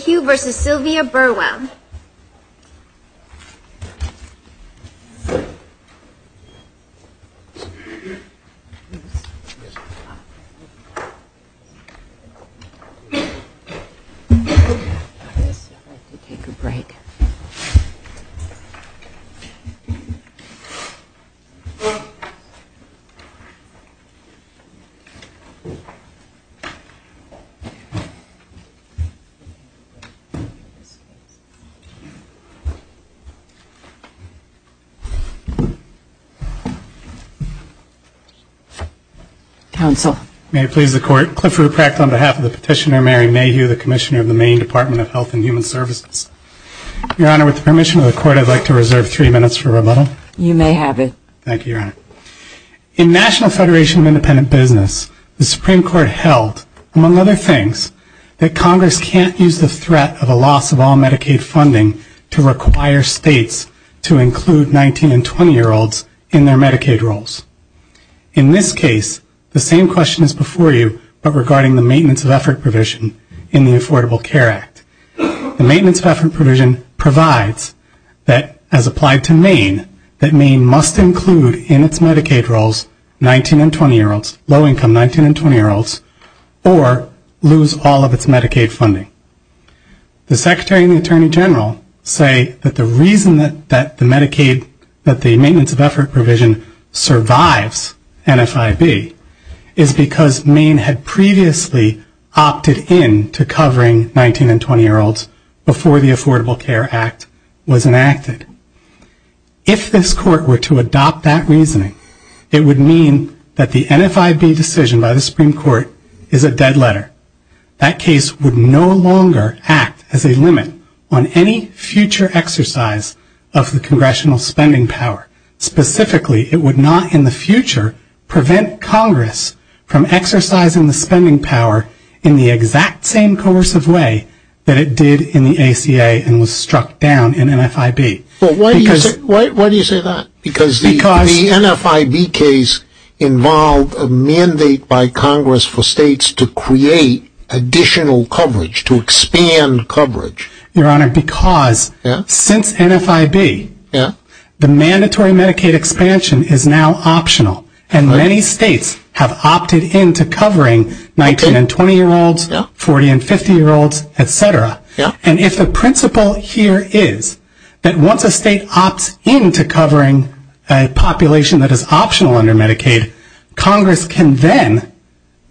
Sylvia Burwell Clifford Prakt May it please the Court, Clifford Prakt on behalf of Petitioner Mary Mayhew, the Commissioner of the Maine Department of Health and Human Services. Your Honor, with the permission of the Court, I'd like to reserve three minutes for rebuttal. You may have it. Thank you, Your Honor. In National Federation of Independent Business, the Supreme Court held, among other things, that Congress can't use the threat of a loss of all Medicaid funding to require states to include 19- and 20-year-olds in their Medicaid rolls. In this case, the same question is before you, but regarding the maintenance of effort provision in the Affordable Care Act. The maintenance of effort provision provides that, as applied to Maine, that Maine must include in its Medicaid rolls 19- and 20-year-olds, low-income 19- and 20-year-olds, or lose all of its Medicaid funding. The Secretary and the Attorney General say that the reason that the maintenance of effort provision survives NFIB is because Maine had previously opted in to covering 19- and 20-year-olds before the Affordable Care Act was enacted. If this Court were to adopt that reasoning, it would mean that the NFIB decision by the Supreme Court is a dead letter. That case would no longer act as a limit on any future exercise of the Congressional spending power. Specifically, it would not, in the future, prevent Congress from exercising the spending power in the exact same coercive way that it did in the ACA and was struck down in NFIB. But why do you say that? Because the NFIB case involved a mandate by Congress for states to create additional coverage, to expand coverage. Your Honor, because since NFIB, the mandatory Medicaid expansion is now optional, and many states are still covering 19- and 20-year-olds, 40- and 50-year-olds, etc. And if the principle here is that once a state opts in to covering a population that is optional under Medicaid, Congress can then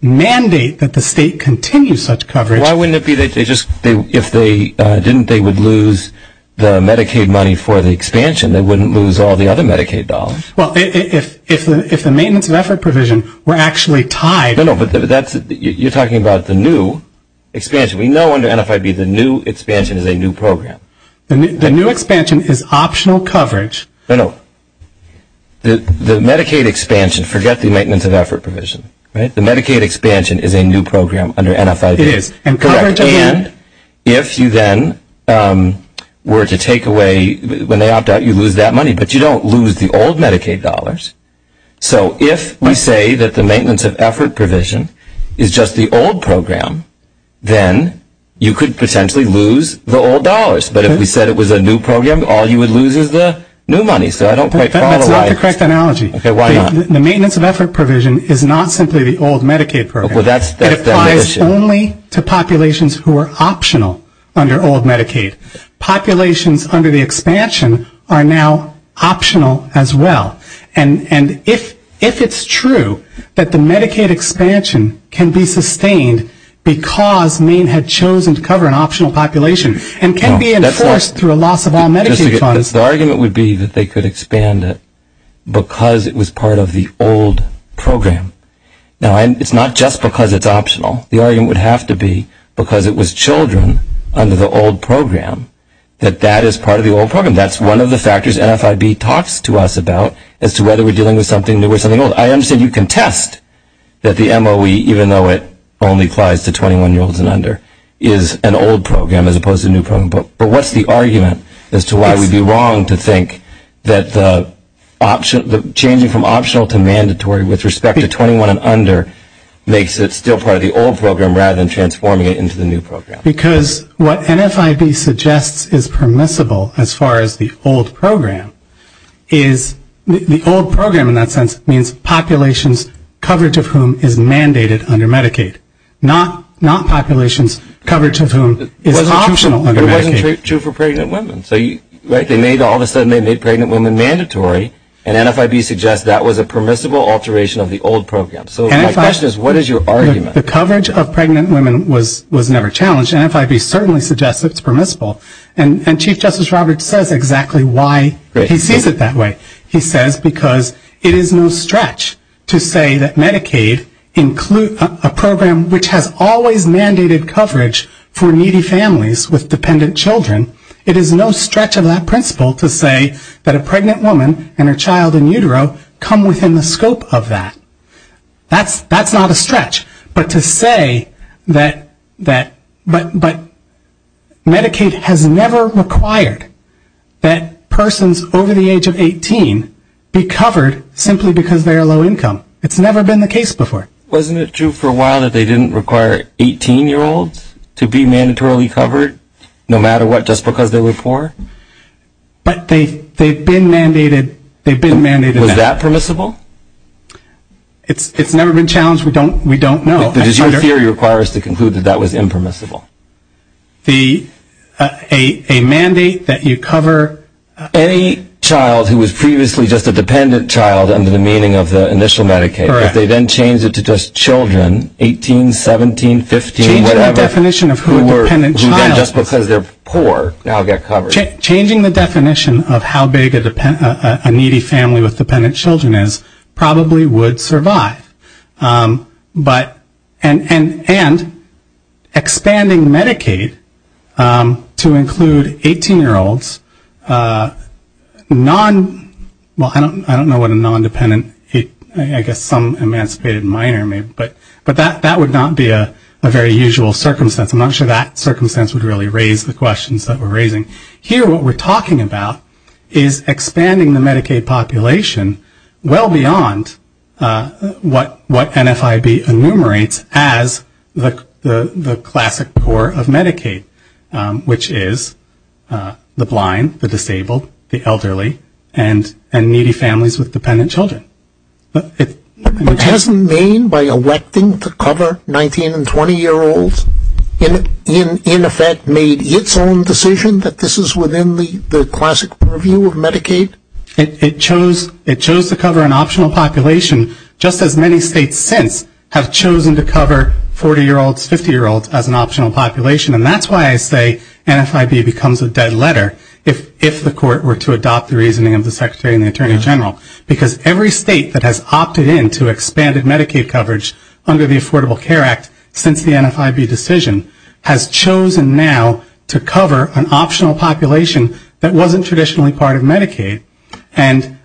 mandate that the state continue such coverage. Why wouldn't it be that they just, if they didn't, they would lose the Medicaid money for the expansion. They wouldn't lose all the other Medicaid dollars. Well, if the maintenance of effort provision were actually tied. No, no, but you're talking about the new expansion. We know under NFIB the new expansion is a new program. The new expansion is optional coverage. No, no. The Medicaid expansion, forget the maintenance of effort provision, right? The Medicaid expansion is a new program under NFIB. It is. And coverage again. If you then were to take away, when they opt out, you lose that money. But you don't lose the old Medicaid dollars. So, if we say that the maintenance of effort provision is just the old program, then you could potentially lose the old dollars. But if we said it was a new program, all you would lose is the new money. So, I don't quite follow. That's not the correct analogy. Okay, why not? The maintenance of effort provision is not simply the old Medicaid program. Well, that's the whole issue. It applies only to populations who are optional under old Medicaid. Populations under the expansion are now optional as well. And if it's true that the Medicaid expansion can be sustained because Maine had chosen to cover an optional population and can be enforced through a loss of all Medicaid funds. The argument would be that they could expand it because it was part of the old program. Now, it's not just because it's optional. The argument would have to be because it was children under the old program that that is part of the old program. That's one of the factors NFIB talks to us about as to whether we're dealing with something new or something old. I understand you contest that the MOE, even though it only applies to 21-year-olds and under, is an old program as opposed to a new program. But what's the argument as to why we'd be wrong to think that changing from optional to mandatory with respect to 21 and under makes it still part of the old program rather than transforming it into the new program? Because what NFIB suggests is permissible as far as the old program is the old program in that sense means populations coverage of whom is mandated under Medicaid, not populations coverage of whom is optional under Medicaid. It wasn't true for pregnant women. So they made all of a sudden they made pregnant women mandatory and NFIB suggests that was a permissible alteration of the old program. So my question is what is your argument? The coverage of pregnant women was never challenged. NFIB certainly suggests it's permissible. And Chief Justice Roberts says exactly why he sees it that way. He says because it is no stretch to say that Medicaid includes a program which has always mandated coverage for needy families with dependent children. It is no stretch of that principle to say that a pregnant woman and her child in utero come within the scope of that. That's not a stretch. But to say that Medicaid has never required that persons over the age of 18 be covered simply because they are low income. It's never been the case before. Wasn't it true for a while that they didn't require 18-year-olds to be mandatorily covered no matter what just because they were poor? But they've been mandated that. Is that permissible? It's never been challenged. We don't know. But your theory requires to conclude that that was impermissible. A mandate that you cover... Any child who was previously just a dependent child under the meaning of the initial Medicaid. Correct. If they then change it to just children, 18, 17, 15, whatever. Changing the definition of who a dependent child is. Who then just because they're poor now get covered. Changing the definition of how big a needy family with dependent children is probably would survive. But...and expanding Medicaid to include 18-year-olds, non...well, I don't know what a non-dependent, I guess some emancipated minor may... But that would not be a very usual circumstance. I'm not sure that circumstance would really raise the questions that we're raising. Here, what we're talking about is expanding the Medicaid population well beyond what NFIB enumerates as the classic core of Medicaid, which is the blind, the disabled, the elderly, and needy families with dependent children. But it doesn't mean by electing to cover 19- and 20-year-olds in effect made its own decision that this is within the classic purview of Medicaid. It chose to cover an optional population just as many states since have chosen to cover 40-year-olds, 50-year-olds as an optional population. And that's why I say NFIB becomes a dead letter if the court were to adopt the reasoning of the Secretary and the Attorney General. Because every state that has opted in to expanded Medicaid coverage under the Affordable Care Act since the NFIB decision has chosen now to cover an optional population that wasn't traditionally part of Medicaid. And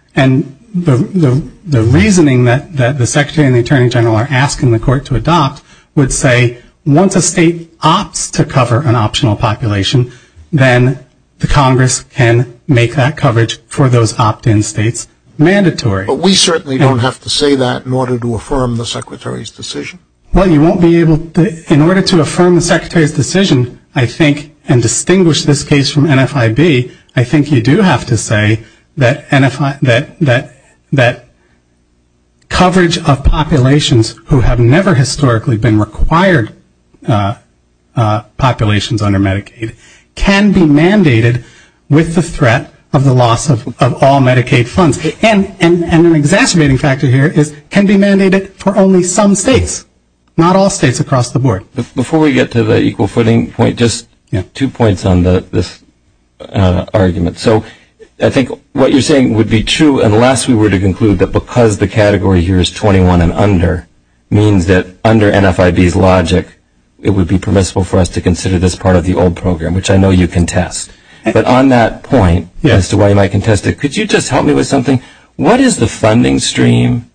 the reasoning that the Secretary and the Attorney General are asking the court to adopt would say once a state opts to cover an optional population, then the Congress can make that coverage for those opt-in states mandatory. But we certainly don't have to say that in order to affirm the Secretary's decision. Well, you won't be able to. In order to affirm the Secretary's decision, I think, and distinguish this case from NFIB, I think you do have to say that coverage of populations who have never historically been required populations under Medicaid can be mandated with the threat of the loss of all Medicaid funds. And an exacerbating factor here is can be mandated for only some states, not all states across the board. Before we get to the equal footing point, just two points on this argument. So I think what you're saying would be true unless we were to conclude that because the category here is 21 and under means that under NFIB's logic, it would be permissible for us to consider this part of the old program, which I know you contest. But on that point, as to why you might contest it, could you just help me with something? What is the funding stream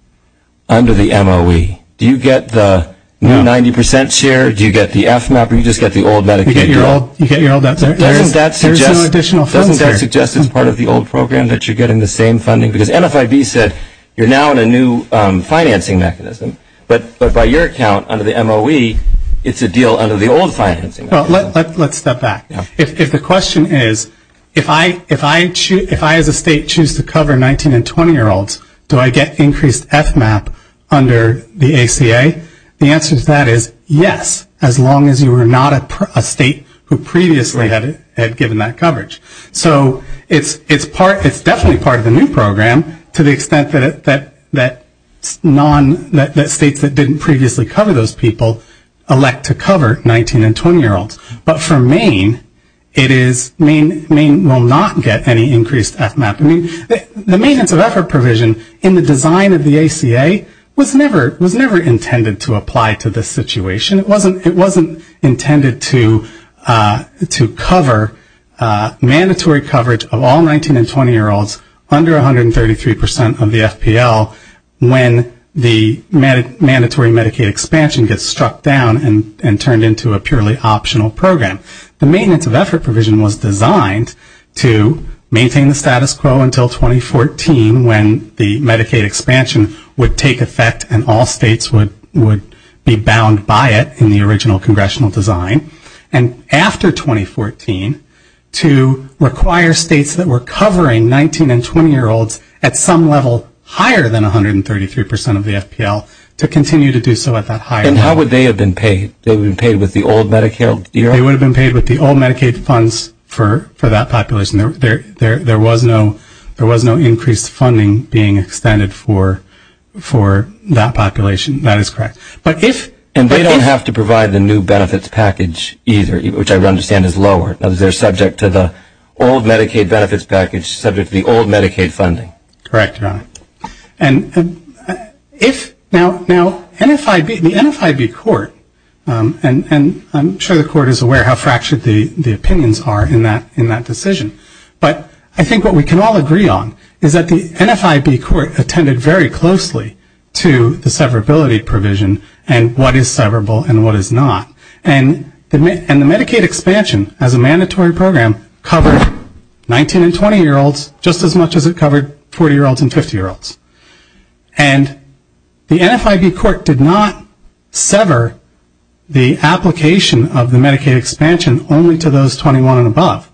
under the MOE? Do you get the new 90% share? Do you get the FMAP, or do you just get the old Medicaid? You get your old, you get your old, that's right. Doesn't that suggest, doesn't that suggest it's part of the old program that you're getting the same funding? Because NFIB said you're now in a new financing mechanism. But by your account, under the MOE, it's a deal under the old financing. Well, let's step back. If the question is, if I as a state choose to cover 19 and 20 year olds, do I get increased FMAP under the ACA? The answer to that is yes, as long as you are not a state who previously had given that coverage. So it's definitely part of the new program to the extent that states that didn't previously cover those people elect to cover 19 and 20 year olds. But for Maine, it is, Maine will not get any increased FMAP. I mean, the maintenance of effort provision in the design of the ACA was never intended to apply to this situation. It wasn't intended to cover mandatory coverage of all 19 and 20 year olds under 133% of the FPL when the mandatory Medicaid expansion gets struck down and turned into a purely optional program. The maintenance of effort provision was designed to maintain the status quo until 2014 when the Medicaid expansion would take effect and all states would be bound by it in the original congressional design. And after 2014, to require states that were covering 19 and 20 year olds at some level higher than 133% of the FPL to continue to do so at that higher level. And how would they have been paid? They would have been paid with the old Medicaid? They would have been paid with the old Medicaid funds for that population. There was no increased funding being extended for that population. That is correct. And they don't have to provide the new benefits package either, which I understand is lower. They are subject to the old Medicaid benefits package, subject to the old Medicaid funding. Correct, Your Honor. And if, now the NFIB court, and I'm sure the court is aware how fractured the opinions are in that decision, but I think what we can all agree on is that the NFIB court attended very closely to the severability provision and what is severable and what is not. And the Medicaid expansion as a mandatory program covered 19 and 20 year olds just as much as it covered 40 year olds and 50 year olds. And the NFIB court did not sever the application of the Medicaid expansion only to those 21 and above.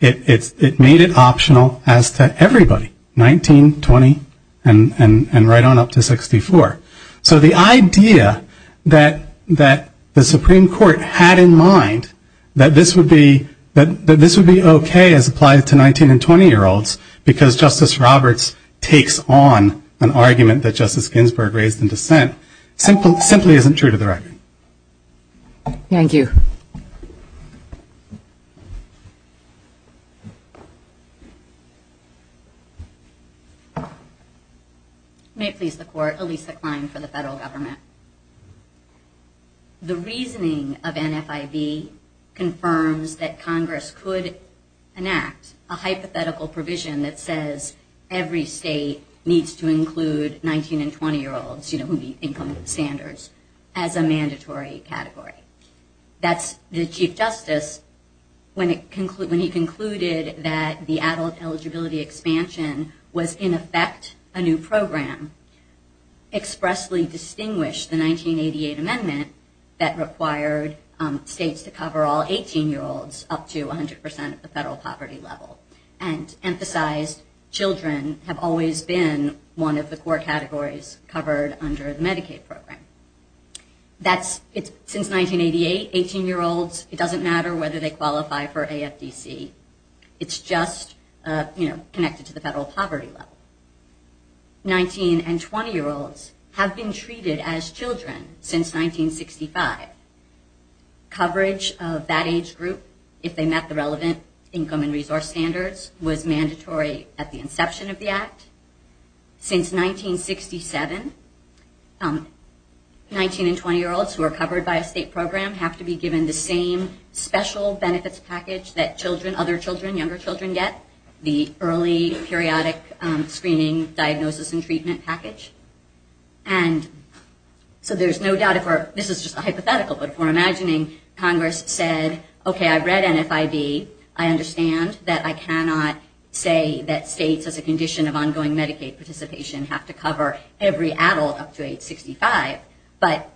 It made it optional as to everybody, 19, 20, and right on up to 64. So the idea that the Supreme Court had in mind that this would be okay as applied to 19 and 20 year olds because Justice Roberts takes on an argument that Justice Ginsburg raised in dissent simply isn't true to the record. Thank you. May it please the court, Elisa Klein for the federal government. The reasoning of NFIB confirms that Congress could enact a hypothetical provision that says every state needs to include 19 and 20 year olds, you know, who meet income standards, as a mandatory category. That's the Chief Justice, when he concluded that the adult eligibility expansion was in effect a new program, expressly distinguished the 1988 amendment that required states to cover all 18 year olds up to 100% of the federal poverty level. And emphasized children have always been one of the core categories covered under the Medicaid program. That's, since 1988, 18 year olds, it doesn't matter whether they qualify for AFDC. It's just, you know, connected to the federal poverty level. 19 and 20 year olds have been treated as children since 1965. Coverage of that age group, if they met the relevant income and resource standards, was mandatory at the inception of the act. Since 1967, 19 and 20 year olds who are covered by a state program have to be given the same special benefits package that children, other children, younger children get, the early periodic screening diagnosis and treatment package. And so there's no doubt if we're, this is just a hypothetical, but if we're imagining Congress said, okay, I read NFIB. I understand that I cannot say that states as a condition of ongoing Medicaid participation have to cover every adult up to age 65. But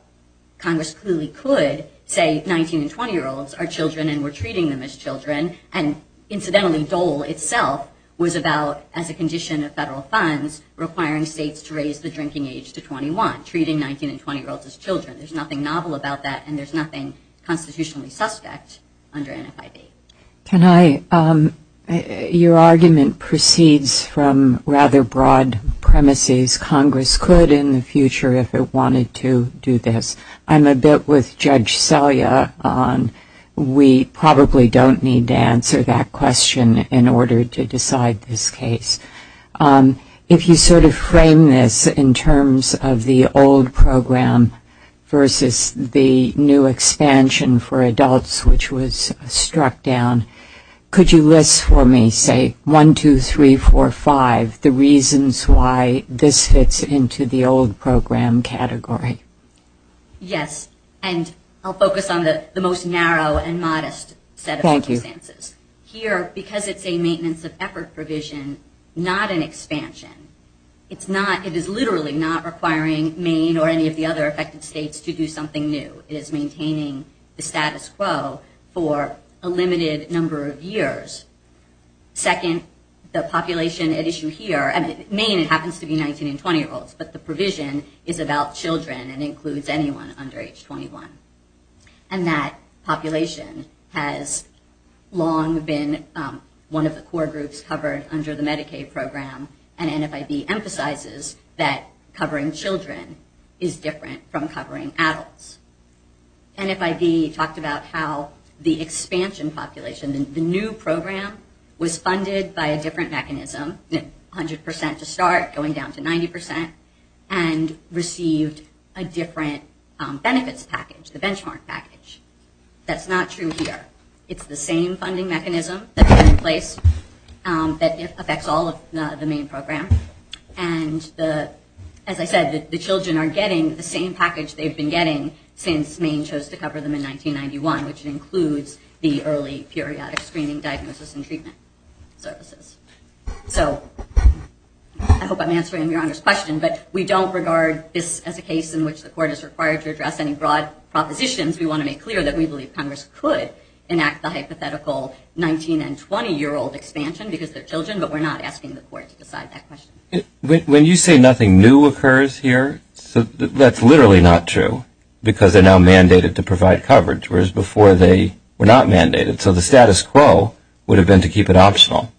Congress clearly could say 19 and 20 year olds are children and we're treating them as children. And incidentally, Dole itself was about, as a condition of federal funds, requiring states to raise the drinking age to 21, treating 19 and 20 year olds as children. There's nothing novel about that and there's nothing constitutionally suspect under NFIB. Can I, your argument proceeds from rather broad premises. Congress could in the future if it wanted to do this. I'm a bit with Judge Selya on we probably don't need to answer that question in order to decide this case. If you sort of frame this in terms of the old program versus the new expansion for adults, which was struck down, could you list for me say one, two, three, four, five, the reasons why this fits into the old program category? Yes. And I'll focus on the most narrow and modest set of circumstances. Here, because it's a maintenance of effort provision, not an expansion, it's not, it is literally not requiring Maine or any of the other affected states to do something new. It is maintaining the status quo for a limited number of years. Second, the population at issue here, Maine it happens to be 19 and 20 year olds, but the provision is about children and includes anyone under age 21. And that population has long been one of the core groups covered under the Medicaid program and NFIB emphasizes that covering children is different from covering adults. NFIB talked about how the expansion population, the new program was funded by a different mechanism, 100% to start, going down to 90% and received a different benefits package, the benchmark package. That's not true here. It's the same funding mechanism that's been in place that affects all of the Maine program. And as I said, the children are getting the same package they've been getting since Maine chose to cover them in 1991, which includes the early periodic screening diagnosis and treatment services. So, I hope I'm answering Your Honor's question, but we don't regard this as a case in which the court is required to address any broad propositions. We want to make clear that we believe Congress could enact the hypothetical 19 and 20 year old expansion because they're children, but we're not asking the court to decide that question. When you say nothing new occurs here, that's literally not true because they're now mandated to provide coverage, whereas before they were not mandated. So, the status quo would have been to keep it optional.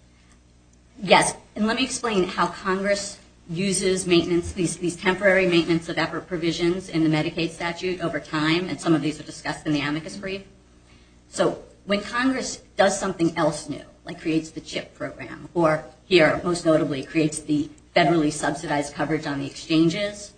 Yes, and let me explain how Congress uses maintenance, these temporary maintenance of effort provisions in the Medicaid statute over time, and some of these are discussed in the amicus brief. So, when Congress does something else new, like creates the CHIP program, or here most notably creates the federally subsidized coverage on the exchanges,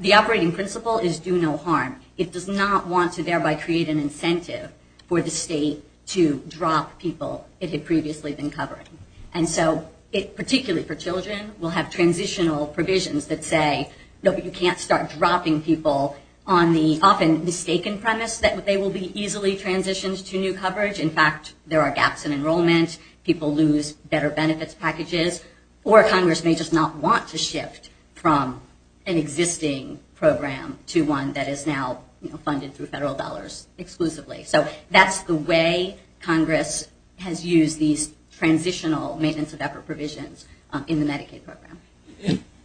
the operating principle is do no harm. It does not want to thereby create an incentive for the state to drop people it had previously been covering. And so, particularly for children, we'll have transitional provisions that say, no, but you can't start dropping people on the often mistaken premise that they will be easily transitioned to new coverage. In fact, there are gaps in enrollment, people lose better benefits packages, or Congress may just not want to shift from an existing program to one that is now, you know, funded through federal dollars exclusively. So, that's the way Congress has used these transitional maintenance of effort provisions in the Medicaid program.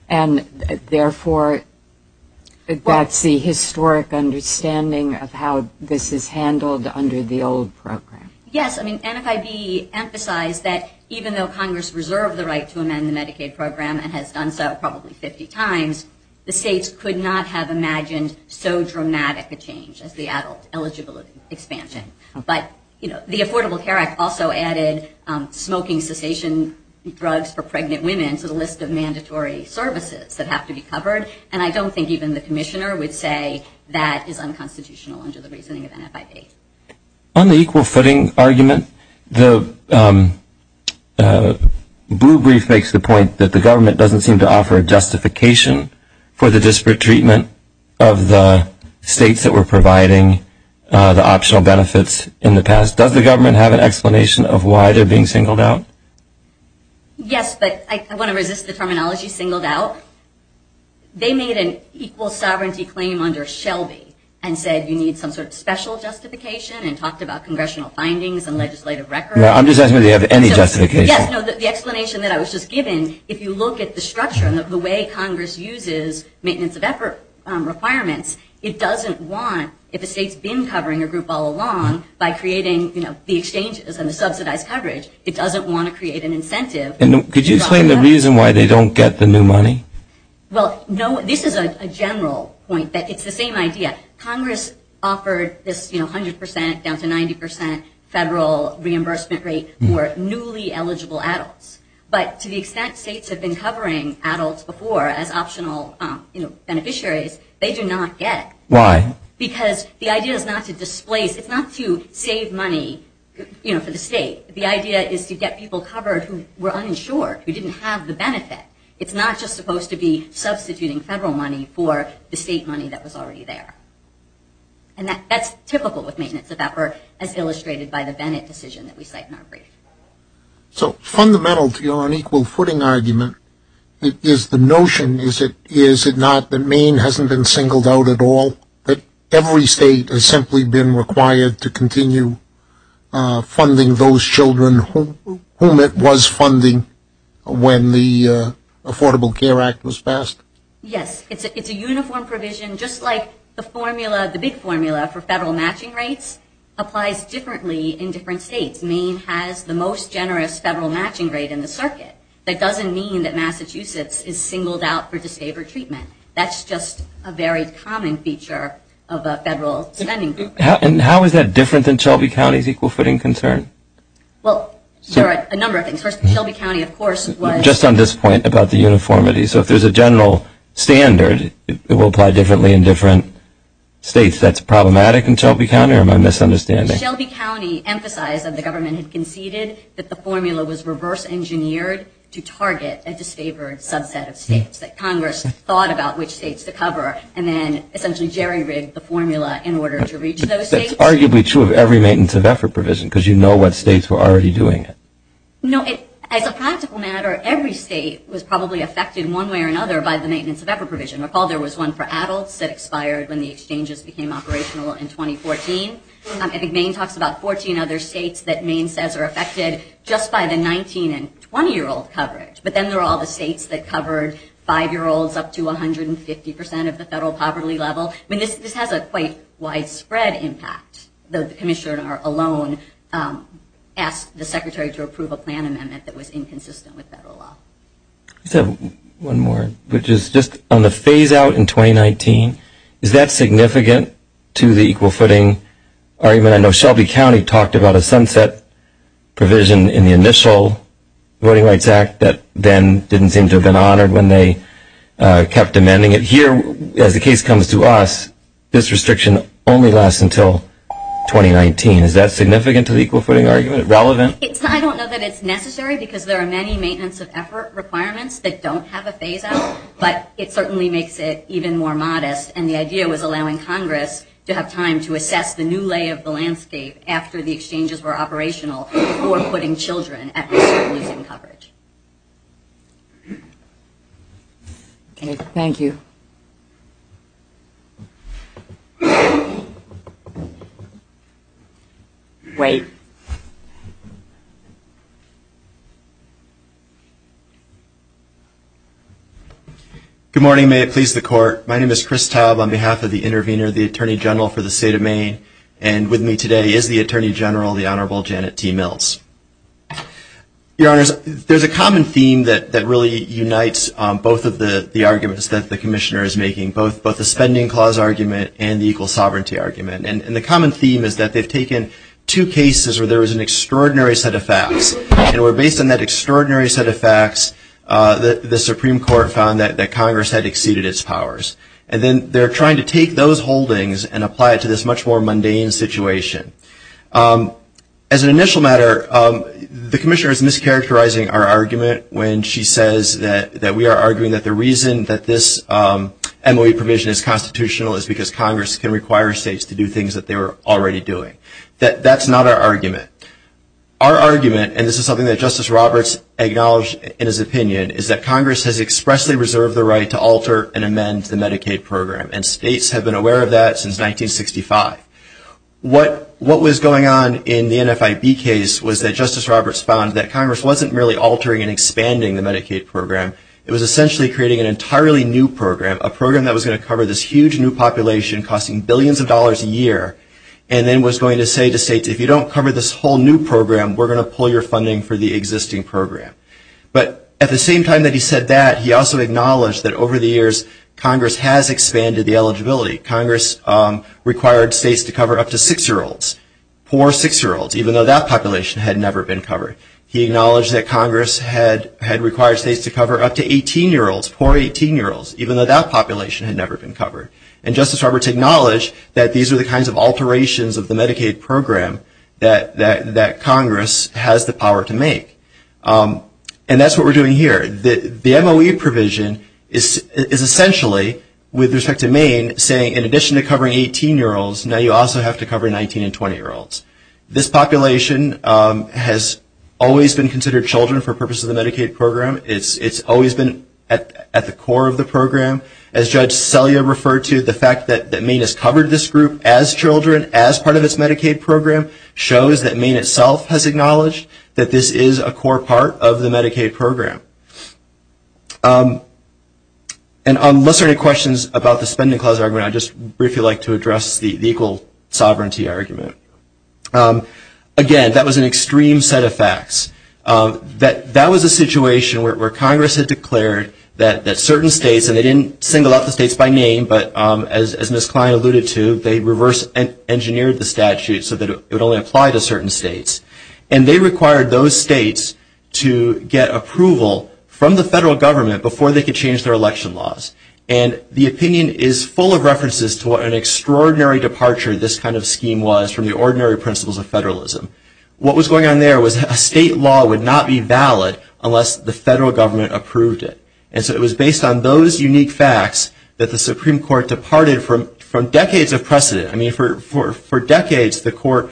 And, therefore, that's the historic understanding of how this is handled under the old program. Yes, I mean, NFIB emphasized that even though Congress reserved the right to amend the Medicaid program and has done so probably 50 times, the states could not have imagined so dramatic a change as the adult eligibility expansion. But, you know, the Affordable Care Act also added smoking cessation drugs for pregnant women to the list of mandatory services that have to be covered. And, I don't think even the commissioner would say that is unconstitutional under the reasoning of NFIB. On the equal footing argument, the blue brief makes the point that the government doesn't seem to offer a justification for the disparate treatment of the states that were providing the optional benefits in the past. Does the government have an explanation of why they're being singled out? Yes, but I want to resist the terminology singled out. They made an equal sovereignty claim under Shelby and said you need some sort of special justification and talked about congressional findings and legislative record. I'm just asking whether you have any justification. Yes, no, the explanation that I was just given, if you look at the structure and the way Congress uses maintenance of effort requirements, it doesn't want, if a state's been covering a group all along by creating, you know, the exchanges and the subsidized coverage, it doesn't want to create an incentive. And, could you explain the reason why they don't get the new money? Well, no, this is a general point that it's the same idea. Congress offered this, you know, 100% down to 90% federal reimbursement rate for newly eligible adults. But, to the extent states have been covering adults before as optional, you know, beneficiaries, they do not get. Why? Because the idea is not to displace, it's not to save money, you know, for the state. The idea is to get people covered who were uninsured, who didn't have the benefit. It's not just supposed to be substituting federal money for the state money that was already there. And, that's typical with maintenance of effort as illustrated by the Bennett decision that we cite in our brief. So, fundamental to your unequal footing argument is the notion, is it not that Maine hasn't been singled out at all, that every state has simply been required to continue funding those children whom it was funding when the Affordable Care Act was passed? Yes, it's a uniform provision, just like the formula, the big formula for federal matching rates applies differently in different states. Maine has the most generous federal matching rate in the circuit. That doesn't mean that Massachusetts is singled out for disfavored treatment. That's just a very common feature of a federal spending program. And, how is that different than Shelby County's equal footing concern? Well, there are a number of things. First, Shelby County, of course, was. Just on this point about the uniformity. So, if there's a general standard, it will apply differently in different states. That's problematic in Shelby County or am I misunderstanding? Shelby County emphasized that the government had conceded that the formula was reverse engineered to target a disfavored subset of states that Congress thought about which states to cover. And then, essentially, Jerry rigged the formula in order to reach those states. But that's arguably true of every maintenance of effort provision because you know what states were already doing it. No, as a practical matter, every state was probably affected one way or another by the maintenance of effort provision. Recall there was one for adults that expired when the exchanges became operational in 2014. I think Maine talks about 14 other states that Maine says are affected just by the 19 and 20-year-old coverage. But then there are all the states that covered five-year-olds up to 150% of the federal poverty level. I mean, this has a quite widespread impact. The commissioner alone asked the secretary to approve a plan amendment that was inconsistent with federal law. So, one more, which is just on the phase out in 2019, is that significant to the equal footing argument? I know Shelby County talked about a sunset provision in the initial Voting Rights Act that then didn't seem to have been honored when they kept amending it. Here, as the case comes to us, this restriction only lasts until 2019. Is that significant to the equal footing argument, relevant? I don't know that it's necessary because there are many maintenance of effort requirements that don't have a phase out. But it certainly makes it even more modest. And the idea was allowing Congress to have time to assess the new lay of the landscape after the exchanges were operational for putting children at risk of losing coverage. Thank you. Wait. Good morning, may it please the court. My name is Chris Taub on behalf of the intervener, the attorney general for the state of Maine. And with me today is the attorney general, the Honorable Janet T. Mills. Your honors, there's a common theme that really unites both of the arguments that the commissioner is making, both the spending clause argument and the equal sovereignty argument. And the common theme is that they've taken two cases where there was an extraordinary set of facts. And where based on that extraordinary set of facts, the Supreme Court found that Congress had exceeded its powers. And then they're trying to take those holdings and apply it to this much more mundane situation. As an initial matter, the commissioner is mischaracterizing our argument when she says that we are arguing that the reason that this MOE permission is constitutional is because Congress can require states to do things that they were already doing. That's not our argument. Our argument, and this is something that Justice Roberts acknowledged in his opinion, is that Congress has expressly reserved the right to alter and amend the Medicaid program. And states have been aware of that since 1965. What was going on in the NFIB case was that Justice Roberts found that Congress wasn't merely altering and expanding the Medicaid program. It was essentially creating an entirely new program. A program that was going to cover this huge new population costing billions of dollars a year, and then was going to say to states, if you don't cover this whole new program, we're going to pull your funding for the existing program. But at the same time that he said that, he also acknowledged that over the years Congress has expanded the eligibility. Congress required states to cover up to six-year-olds, poor six-year-olds, even though that population had never been covered. He acknowledged that Congress had required states to cover up to 18-year-olds, poor 18-year-olds, even though that population had never been covered. And Justice Roberts acknowledged that these are the kinds of alterations of the Medicaid program that Congress has the power to make. And that's what we're doing here. The MOE provision is essentially, with respect to Maine, saying in addition to covering 18-year-olds, now you also have to cover 19 and 20-year-olds. This population has always been considered children for purposes of the Medicaid program. It's always been at the core of the program. As Judge Selya referred to, the fact that Maine has covered this group as children, as part of its Medicaid program, shows that Maine itself has acknowledged that this is a core part of the Medicaid program. And unless there are any questions about the spending clause argument, I'd just briefly like to address the equal sovereignty argument. Again, that was an extreme set of facts. That was a situation where Congress had declared that certain states, and they didn't single out the states by name, but as Ms. Klein alluded to, they reverse engineered the statute so that it would only apply to certain states. And they required those states to get approval from the federal government before they could change their election laws. And the opinion is full of references to what an extraordinary departure this kind of scheme was from the ordinary principles of federalism. What was going on there was that a state law would not be valid unless the federal government approved it. And so it was based on those unique facts that the Supreme Court departed from decades of precedent. I mean, for decades, the court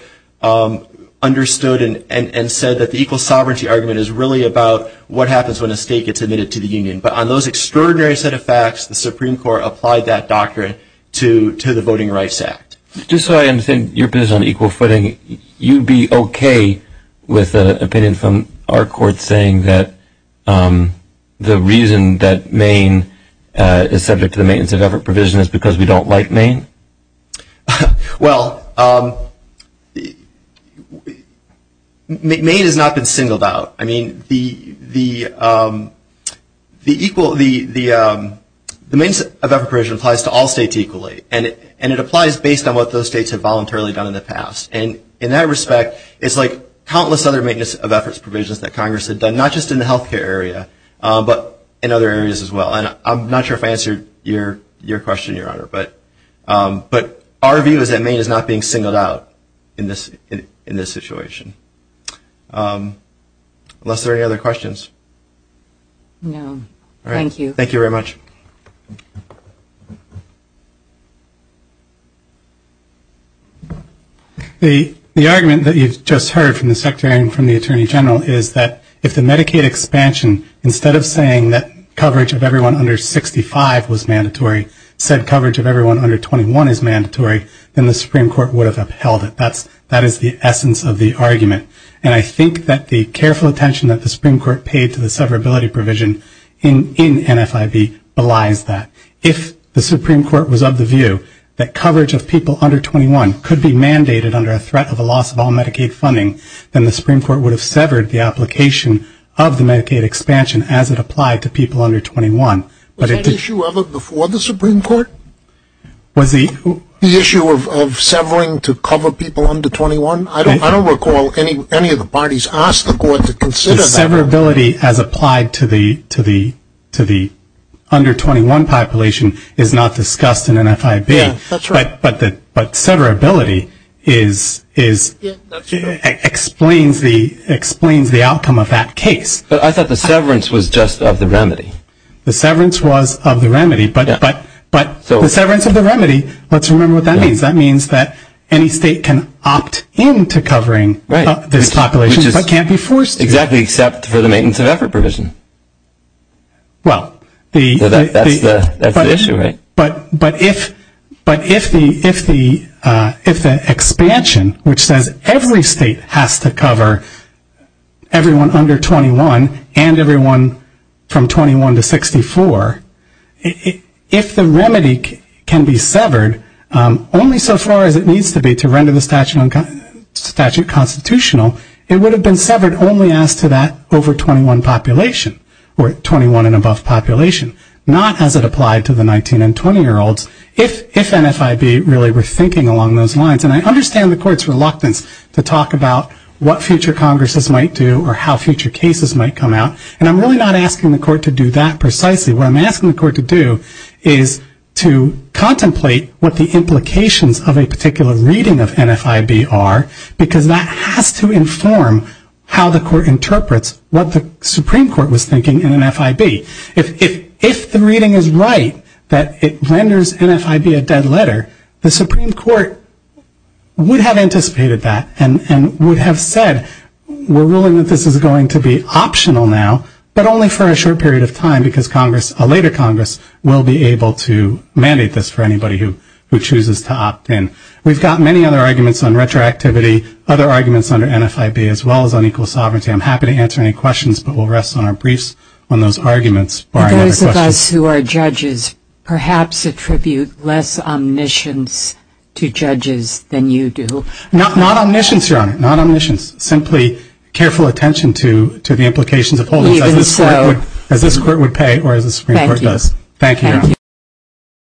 understood and said that the equal sovereignty argument is really about what happens when a state gets admitted to the Union. But on those extraordinary set of facts, the Supreme Court applied that doctrine to the Voting Rights Act. Just so I understand your position on equal footing, you'd be OK with an opinion from our court saying that the reason that Maine is subject to the maintenance of effort provision is because we don't like Maine? Well, Maine has not been singled out. I mean, the maintenance of effort provision applies to all states equally. And it applies based on what those states have voluntarily done in the past. And in that respect, it's like countless other maintenance of efforts provisions that Congress had done, not just in the health care area, but in other areas as well. And I'm not sure if I answered your question, Your Honor. But our view is that Maine is not being singled out in this situation. Unless there are any other questions. No. Thank you. Thank you very much. The argument that you've just heard from the Secretary and from the Attorney General is that if the Medicaid expansion, instead of saying that coverage of everyone under 65 was mandatory, said coverage of everyone under 21 is mandatory, then the Supreme Court would have upheld it. That is the essence of the argument. And I think that the careful attention that the Supreme Court paid to the severability provision in NFIB belies that. If the Supreme Court was of the view that coverage of people under 21 could be mandated under a threat of a loss of all Medicaid funding, then the Supreme Court would have severed the application of the Medicaid expansion as it applied to people under 21. Was that an issue ever before the Supreme Court? Was the issue of severing to cover people under 21? I don't recall any of the parties asked the court to consider that. The severability as applied to the under 21 population is not discussed in NFIB. That's right. But severability explains the outcome of that case. But I thought the severance was just of the remedy. The severance was of the remedy. But the severance of the remedy, let's remember what that means. That means that any state can opt in to covering this population, but can't be forced to. Exactly, except for the maintenance of effort provision. Well, that's the issue, right? But if the expansion, which says every state has to cover everyone under 21 and everyone from 21 to 64, if the remedy can be severed only so far as it needs to be to render the statute constitutional, it would have been severed only as to that over 21 population, or 21 and above population, not as it applied to the 19 and 20-year-olds, if NFIB really were thinking along those lines. And I understand the court's reluctance to talk about what future Congresses might do or how future cases might come out, and I'm really not asking the court to do that precisely. What I'm asking the court to do is to contemplate what the implications of a particular reading of NFIB are, because that has to inform how the court interprets what the Supreme Court was thinking in NFIB. If the reading is right, that it renders NFIB a dead letter, the Supreme Court would have anticipated that and would have said, we're ruling that this is going to be optional now, but only for a short period of time because Congress, a later Congress, will be able to mandate this for anybody who chooses to opt in. We've got many other arguments on retroactivity, other arguments under NFIB as well as unequal sovereignty. I'm happy to answer any questions, but we'll rest on our briefs on those arguments. Barring other questions. For those of us who are judges, perhaps attribute less omniscience to judges than you do. Not omniscience, Your Honor, not omniscience. Simply careful attention to the implications of holdings as this court would pay or as the Supreme Court does. Thank you, Your Honor.